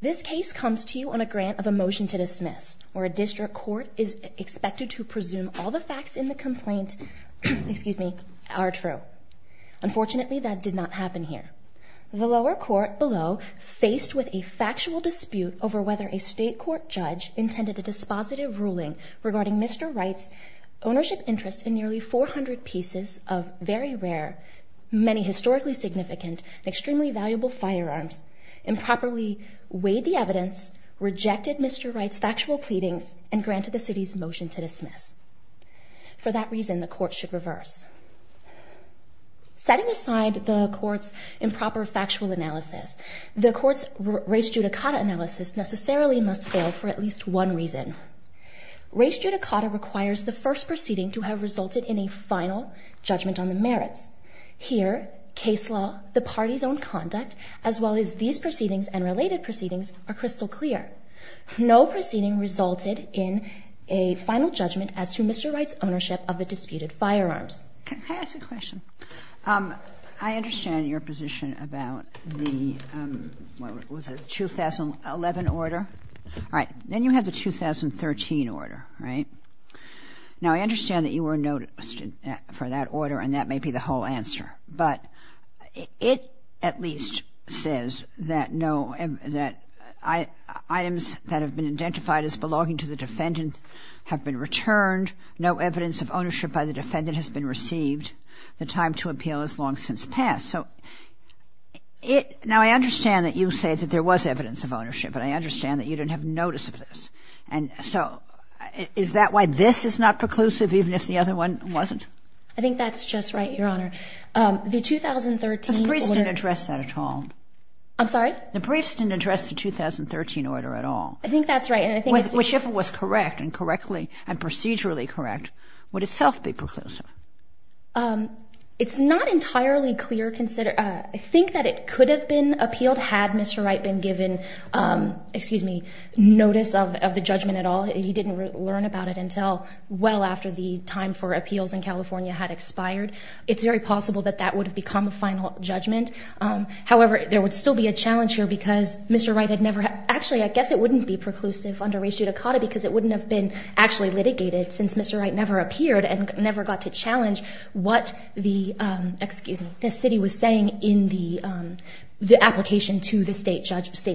This case comes to you on a grant of a motion to dismiss, where a district court is expected to presume all the facts in the complaint are true. Unfortunately that did not happen here. The lower court below, faced with a factual dispute over whether a state court judge intended a dispositive ruling regarding Mr. Wright's ownership interest in nearly 400 pieces of very rare, many historically significant, and extremely valuable firearms, improperly weighed the evidence, rejected Mr. Wright's factual pleadings, and granted the city's motion to dismiss. For that reason, the court should reverse. Setting aside the court's improper factual analysis, the court's res judicata analysis necessarily must fail for at least one reason. Res judicata requires the first proceeding to have resulted in a final judgment on the merits. Here, case law, the party's own conduct, as well as these proceedings and related proceedings are crystal clear. No proceeding resulted in a final judgment as to Mr. Wright's ownership of the disputed firearms. Can I ask a question? I understand your position about the 2011 order. All right. Then you have the 2013 order, right? Now, I understand that you were noticed for that order, and that may be the whole answer. But it at least says that no, that items that have been identified as belonging to the defendant have been returned. No evidence of ownership by the defendant has been received. The time to appeal has long since passed. So it ñ now, I understand that you say that there was evidence of ownership, and I understand that you didn't have notice of this. And so is that why this is not preclusive, even if the other one wasn't? I think that's just right, Your Honor. The 2013 order ñ The briefs didn't address that at all. I'm sorry? The briefs didn't address the 2013 order at all. I think that's right. Whichever was correct and correctly and procedurally correct would itself be preclusive. It's not entirely clear ñ I think that it could have been appealed had Mr. Wright been given ñ excuse me ñ notice of the judgment at all. He didn't learn about it until well after the time for appeals in California had expired. It's very possible that that would have become a final judgment. However, there would still be a challenge here because Mr. Wright had never ñ actually, I guess it wouldn't be preclusive under res judicata because it wouldn't have been actually litigated since Mr. Wright never appeared and never got to challenge what the ñ excuse me ñ the city was saying in the application to the state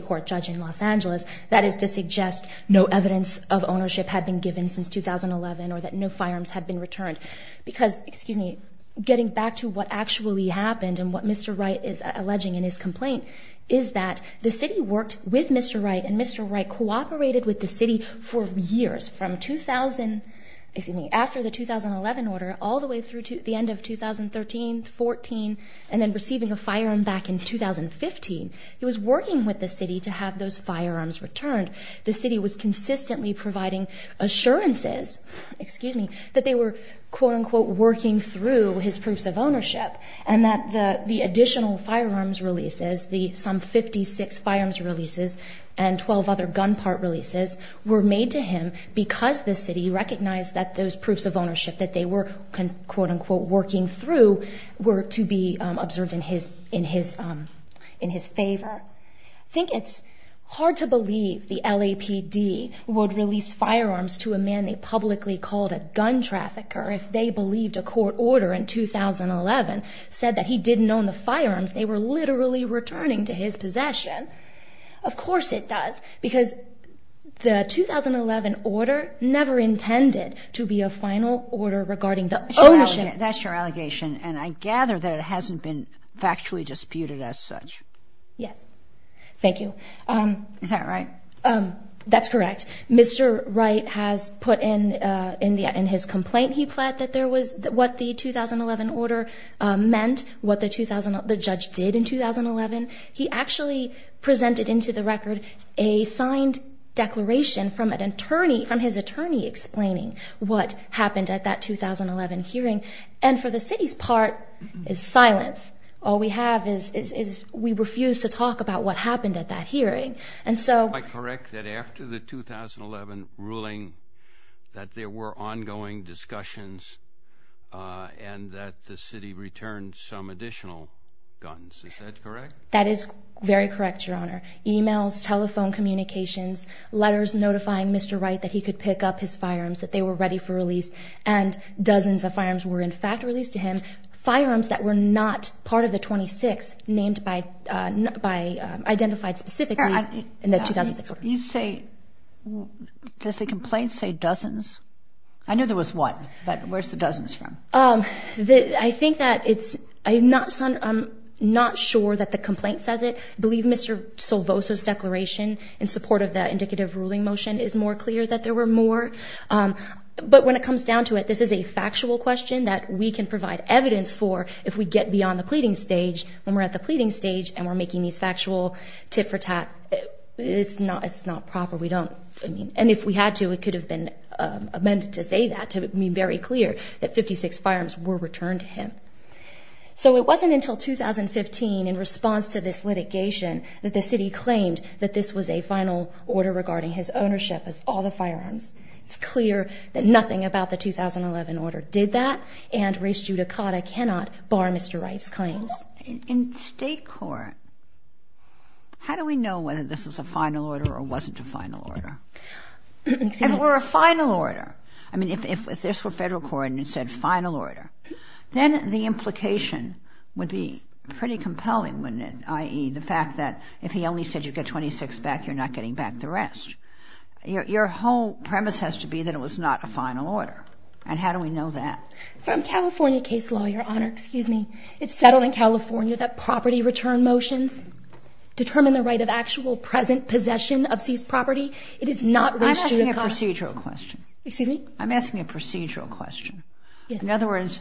court judge in Los Angeles. That is to suggest no evidence of ownership had been given since 2011 or that no firearms had been returned. Because ñ excuse me ñ getting back to what actually happened and what Mr. Wright is alleging in his complaint is that the city worked with Mr. Wright and Mr. Wright cooperated with the city for years from 2000 ñ excuse me ñ after the 2011 order all the way through to the end of 2013, 14, and then receiving a firearm back in 2015. He was working with the city to have those firearms returned. The city was consistently providing assurances ñ excuse me ñ that they were, quote, unquote, working through his proofs of ownership and that the additional firearms releases, the some 56 firearms releases, and 12 other gun part releases were made to him because the city recognized that those proofs of ownership that they were, quote, unquote, working through were to be observed in his favor. I think it's hard to believe the LAPD would release firearms to a man they publicly called a gun trafficker if they believed a court order in 2011 said that he didn't own the firearms. They were literally returning to his possession. Of course it does because the 2011 order never intended to be a final order regarding the ownership. That's your allegation, and I gather that it hasn't been factually disputed as such. Yes. Thank you. Is that right? That's correct. Mr. Wright has put in his complaint he pled that there was what the 2011 order meant, what the judge did in 2011. He actually presented into the record a signed declaration from an attorney, from his attorney explaining what happened at that 2011 hearing. And for the city's part, it's silence. All we have is we refuse to talk about what happened at that hearing. Am I correct that after the 2011 ruling that there were ongoing discussions and that the city returned some additional guns? Is that correct? That is very correct, Your Honor. Emails, telephone communications, letters notifying Mr. Wright that he could pick up his firearms, that they were ready for release, and dozens of firearms were in fact released to him, firearms that were not part of the 26 named by, identified specifically in the 2006 order. You say, does the complaint say dozens? I know there was one, but where's the dozens from? I think that it's, I'm not sure that the complaint says it. I believe Mr. Solvoso's declaration in support of the indicative ruling motion is more clear that there were more. But when it comes down to it, this is a factual question that we can provide evidence for if we get beyond the pleading stage. When we're at the pleading stage and we're making these factual tit-for-tat, it's not proper. We don't, I mean, and if we had to, it could have been amended to say that, to be very clear that 56 firearms were returned to him. So it wasn't until 2015, in response to this litigation, that the city claimed that this was a final order regarding his ownership of all the firearms. It's clear that nothing about the 2011 order did that, and race judicata cannot bar Mr. Wright's claims. In state court, how do we know whether this was a final order or wasn't a final order? If it were a final order, I mean, if this were federal court and it said final order, then the implication would be pretty compelling, wouldn't it, i.e., the fact that if he only said you get 26 back, you're not getting back the rest. Your whole premise has to be that it was not a final order. And how do we know that? From California case law, Your Honor. Excuse me. It's settled in California that property return motions determine the right of actual present possession of seized property. It is not race judicata. I'm asking a procedural question. Excuse me? I'm asking a procedural question. In other words,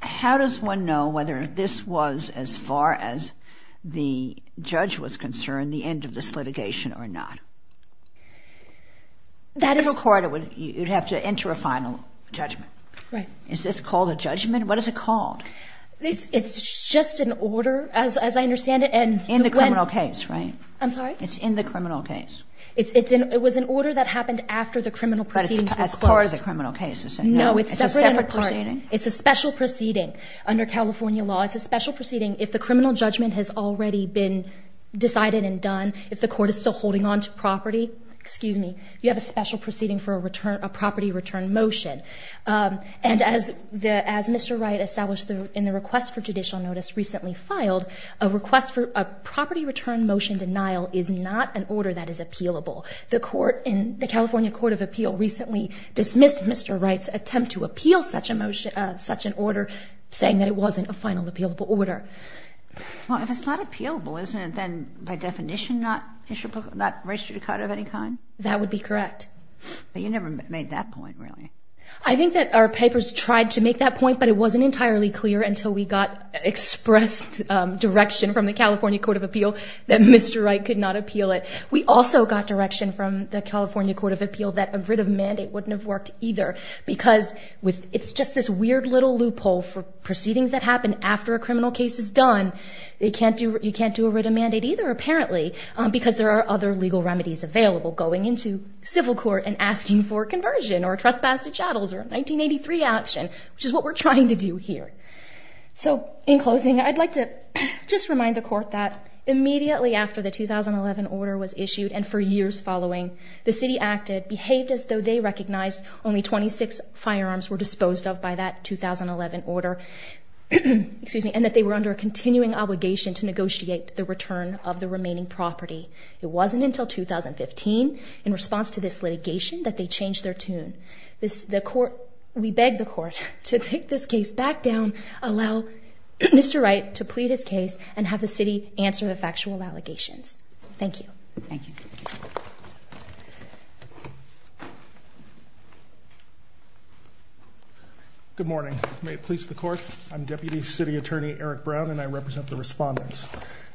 how does one know whether this was, as far as the judge was concerned, the end of this litigation or not? In federal court, you'd have to enter a final judgment. Right. Is this called a judgment? What is it called? It's just an order, as I understand it. In the criminal case, right? I'm sorry? It's in the criminal case. It was an order that happened after the criminal proceedings were closed. But it's part of the criminal case, isn't it? No, it's separate and apart. It's a separate proceeding? It's a special proceeding under California law. It's a special proceeding. If the criminal judgment has already been decided and done, if the court is still holding on to property, excuse me, you have a special proceeding for a property return motion. And as Mr. Wright established in the request for judicial notice recently filed, a request for a property return motion denial is not an order that is appealable. The court in the California Court of Appeal recently dismissed Mr. Wright's attempt to appeal such an order, saying that it wasn't a final appealable order. Well, if it's not appealable, isn't it then, by definition, not race judicata of any kind? That would be correct. But you never made that point, really. I think that our papers tried to make that point, but it wasn't entirely clear until we got expressed direction from the California Court of Appeal that Mr. Wright could not appeal it. We also got direction from the California Court of Appeal that a writ of mandate wouldn't have worked either because it's just this weird little loophole for proceedings that happen after a criminal case is done. You can't do a writ of mandate either, apparently, because there are other legal remedies available, going into civil court and asking for conversion or a trespass to chattels or a 1983 action, which is what we're trying to do here. So in closing, I'd like to just remind the court that immediately after the 2011 order was issued and for years following, the city acted, behaved as though they recognized only 26 firearms were disposed of by that 2011 order, and that they were under a continuing obligation to negotiate the return of the remaining property. It wasn't until 2015, in response to this litigation, that they changed their tune. We beg the court to take this case back down, allow Mr. Wright to plead his case, and have the city answer the factual allegations. Thank you. Thank you. Good morning. May it please the court. I'm Deputy City Attorney Eric Brown, and I represent the respondents.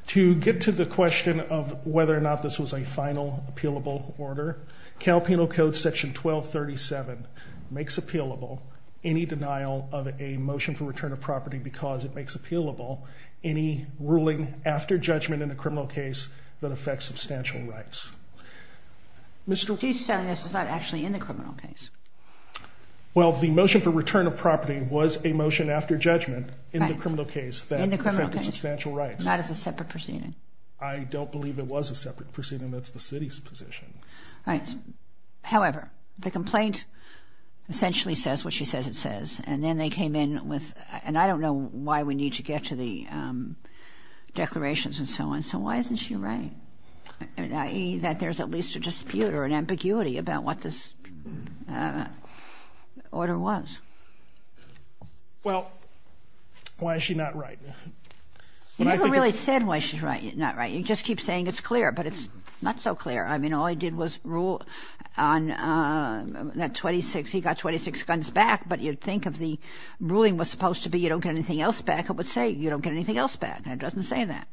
To get to the question of whether or not this was a final appealable order, Cal Penal Code Section 1237 makes appealable any denial of a motion for return of property because it makes appealable any ruling after judgment in a criminal case that affects substantial rights. She's saying this is not actually in the criminal case. Well, the motion for return of property was a motion after judgment in the criminal case that affected substantial rights. Not as a separate proceeding. I don't believe it was a separate proceeding. That's the city's position. Right. However, the complaint essentially says what she says it says, and then they came in with, and I don't know why we need to get to the declarations and so on. So why isn't she right? That there's at least a dispute or an ambiguity about what this order was. Well, why is she not right? You never really said why she's not right. You just keep saying it's clear, but it's not so clear. I mean, all he did was rule on that 26. He got 26 guns back, but you'd think if the ruling was supposed to be you don't get anything else back, it would say you don't get anything else back, and it doesn't say that.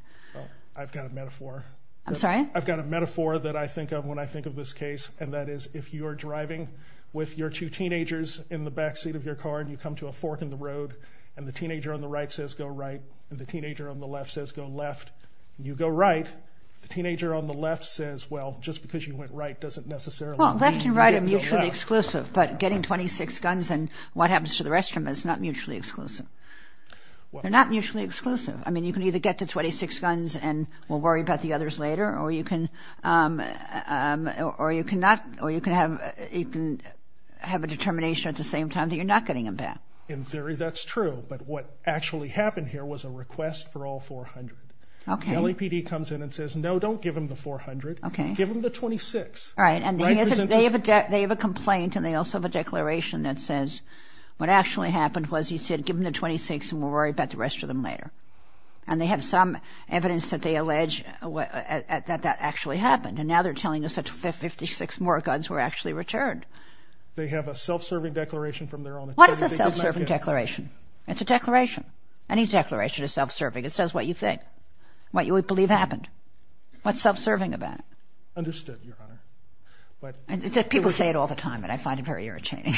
I've got a metaphor. I'm sorry? I've got a metaphor that I think of when I think of this case, and that is if you are driving with your two teenagers in the backseat of your car and you come to a fork in the road and the teenager on the right says go right and the teenager on the left says go left, and you go right, the teenager on the left says, well, just because you went right doesn't necessarily mean you go left. Well, left and right are mutually exclusive, but getting 26 guns and what happens to the rest of them is not mutually exclusive. They're not mutually exclusive. I mean, you can either get to 26 guns and we'll worry about the others later, or you can have a determination at the same time that you're not getting them back. In theory, that's true, but what actually happened here was a request for all 400. Okay. The LAPD comes in and says, no, don't give them the 400. Okay. Give them the 26. All right, and they have a complaint and they also have a declaration that says what actually happened was he said give them the 26 and we'll worry about the rest of them later, and they have some evidence that they allege that that actually happened, and now they're telling us that 56 more guns were actually returned. They have a self-serving declaration from their own attorney. What is a self-serving declaration? It's a declaration. Any declaration is self-serving. It says what you think, what you would believe happened. What's self-serving about it? Understood, Your Honor. People say it all the time, and I find it very irritating.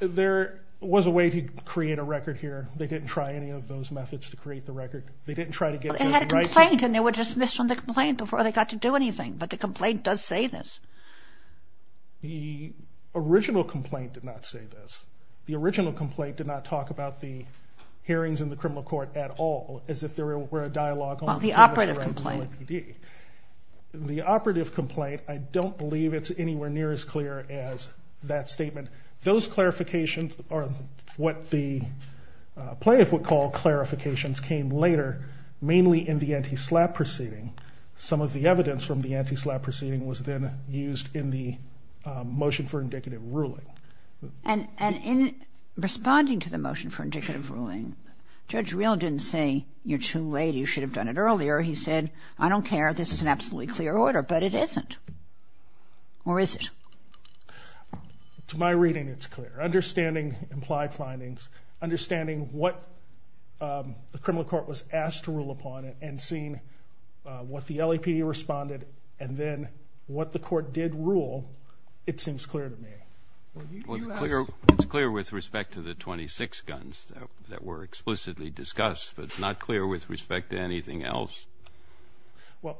There was a way to create a record here. They didn't try any of those methods to create the record. They didn't try to get to the right thing. It had a complaint, and they were dismissed from the complaint before they got to do anything, but the complaint does say this. The original complaint did not say this. The original complaint did not talk about the hearings in the criminal court at all, as if there were a dialogue on the premise that you were an OIPD. Well, the operative complaint. The operative complaint, I don't believe it's anywhere near as clear as that statement. Those clarifications are what the plaintiff would call clarifications came later, mainly in the anti-SLAPP proceeding. Some of the evidence from the anti-SLAPP proceeding was then used in the motion for indicative ruling. And in responding to the motion for indicative ruling, Judge Reel didn't say, you're too late, you should have done it earlier. He said, I don't care, this is an absolutely clear order, but it isn't. Or is it? To my reading, it's clear. Understanding implied findings, understanding what the criminal court was asked to rule upon it and seeing what the LAPD responded and then what the court did rule, it seems clear to me. Well, it's clear with respect to the 26 guns that were explicitly discussed, but it's not clear with respect to anything else. Well,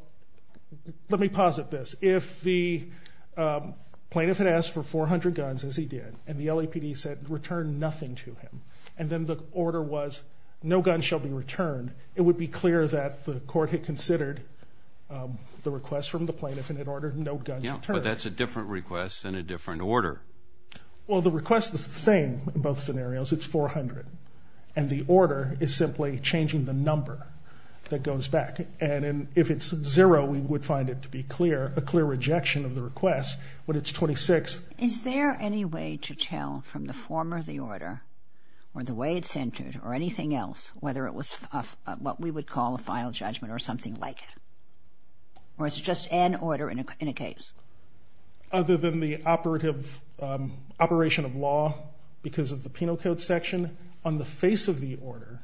let me posit this. If the plaintiff had asked for 400 guns, as he did, and the LAPD said return nothing to him, and then the order was no guns shall be returned, it would be clear that the court had considered the request from the plaintiff and had ordered no guns returned. Yeah, but that's a different request and a different order. Well, the request is the same in both scenarios. It's 400, and the order is simply changing the number that goes back. And if it's zero, we would find it to be clear, a clear rejection of the request, but it's 26. Is there any way to tell from the form of the order or the way it's entered or anything else whether it was what we would call a final judgment or something like it? Or is it just an order in a case? Other than the operation of law because of the penal code section, on the face of the order,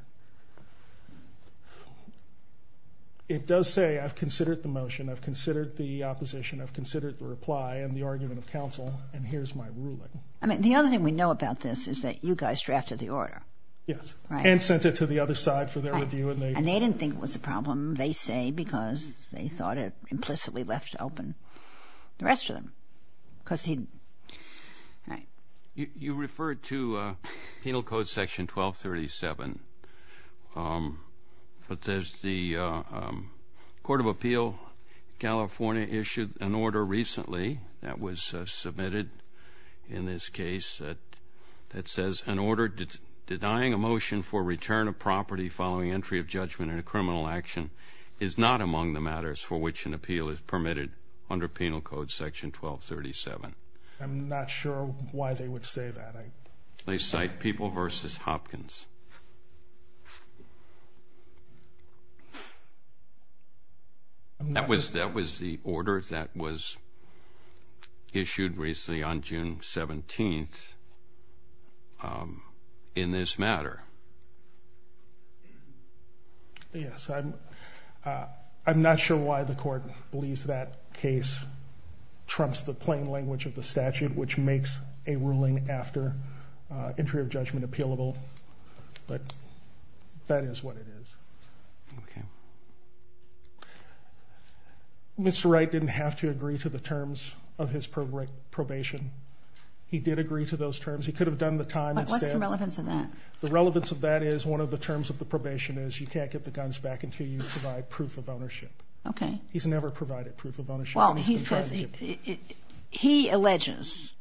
it does say I've considered the motion, I've considered the opposition, I've considered the reply and the argument of counsel, and here's my ruling. The other thing we know about this is that you guys drafted the order. Yes, and sent it to the other side for their review. And they didn't think it was a problem, they say, because they thought it implicitly left open the rest of them. You referred to penal code section 1237, but there's the Court of Appeal California issued an order recently that was submitted in this case that says an order denying a motion for return of property following entry of judgment in a criminal action is not among the matters for which an appeal is permitted under penal code section 1237. I'm not sure why they would say that. They cite People v. Hopkins. That was the order that was issued recently on June 17th in this matter. Yes, I'm not sure why the court believes that case trumps the plain language of the statute which makes a ruling after entry of judgment appealable, but that is what it is. Mr. Wright didn't have to agree to the terms of his probation. He did agree to those terms. He could have done the time instead. What's the relevance of that? The relevance of that is one of the terms of the probation is you can't get the guns back until you provide proof of ownership. Okay. He's never provided proof of ownership. Well, he alleges,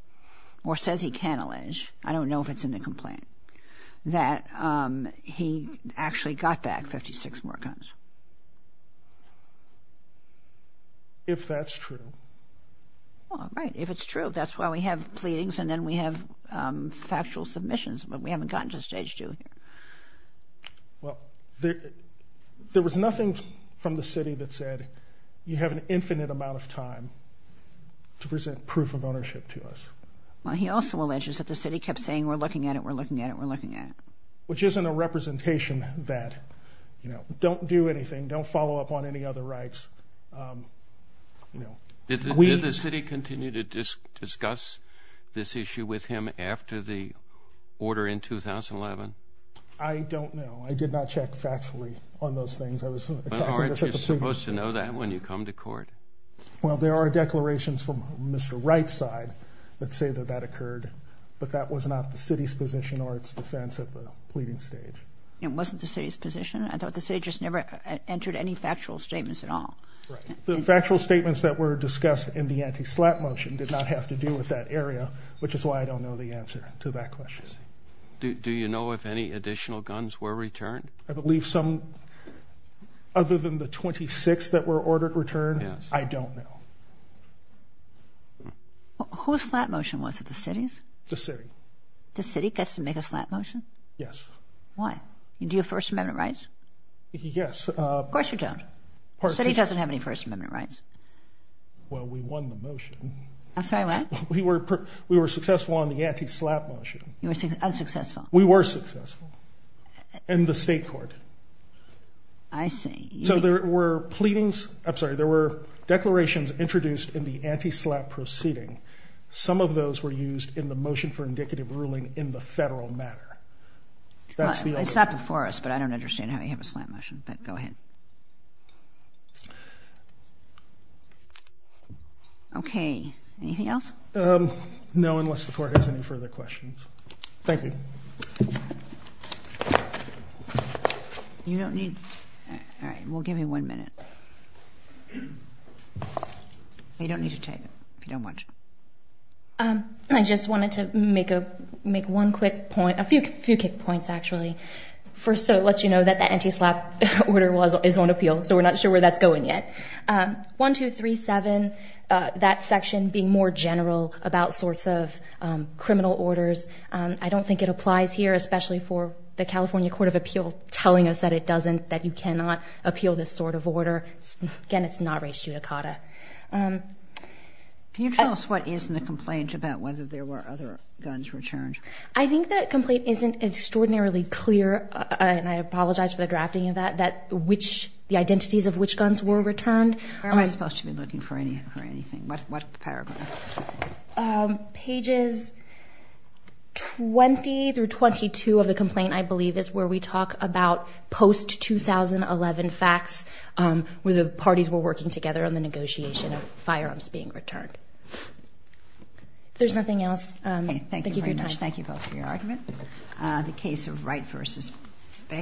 or says he can allege, I don't know if it's in the complaint, that he actually got back 56 more guns. If that's true. Well, right. If it's true, that's why we have pleadings and then we have factual submissions, but we haven't gotten to stage two. Well, there was nothing from the city that said you have an infinite amount of time to present proof of ownership to us. Well, he also alleges that the city kept saying, we're looking at it, we're looking at it, we're looking at it. Which isn't a representation that, you know, don't do anything, don't follow up on any other rights. Did the city continue to discuss this issue with him after the order in 2011? I don't know. I did not check factually on those things. Aren't you supposed to know that when you come to court? Well, there are declarations from Mr. Wright's side that say that that occurred, but that was not the city's position or its defense at the pleading stage. It wasn't the city's position? I thought the city just never entered any factual statements at all. Right. The factual statements that were discussed in the anti-SLAPP motion did not have to do with that area, which is why I don't know the answer to that question. Do you know if any additional guns were returned? I believe some, other than the 26 that were ordered returned, I don't know. Who's SLAPP motion was it, the city's? The city. The city gets to make a SLAPP motion? Yes. Why? Do you have First Amendment rights? Yes. Of course you don't. The city doesn't have any First Amendment rights. Well, we won the motion. I'm sorry, what? We were successful on the anti-SLAPP motion. You were unsuccessful? We were successful in the state court. I see. So there were declarations introduced in the anti-SLAPP proceeding. Some of those were used in the motion for indicative ruling in the federal matter. It's not before us, but I don't understand how you have a SLAPP motion, but go ahead. Okay. Anything else? No, unless the court has any further questions. Thank you. You don't need, all right, we'll give you one minute. You don't need to take it if you don't want to. I just wanted to make one quick point, a few quick points, actually. First, to let you know that the anti-SLAPP order is on appeal, so we're not sure where that's going yet. 1, 2, 3, 7, that section being more general about sorts of criminal orders, I don't think it applies here, especially for the California Court of Appeal telling us that it doesn't, that you cannot appeal this sort of order. Again, it's not res judicata. Can you tell us what is in the complaint about whether there were other guns returned? I think the complaint isn't extraordinarily clear, and I apologize for the drafting of that, that which, the identities of which guns were returned. Where am I supposed to be looking for anything? What paragraph? Pages 20 through 22 of the complaint, I believe, is where we talk about post-2011 facts where the parties were working together on the negotiation of firearms being returned. If there's nothing else, thank you for your time. Okay, thank you very much. Thank you both for your argument. The case of Wright v. Beckett.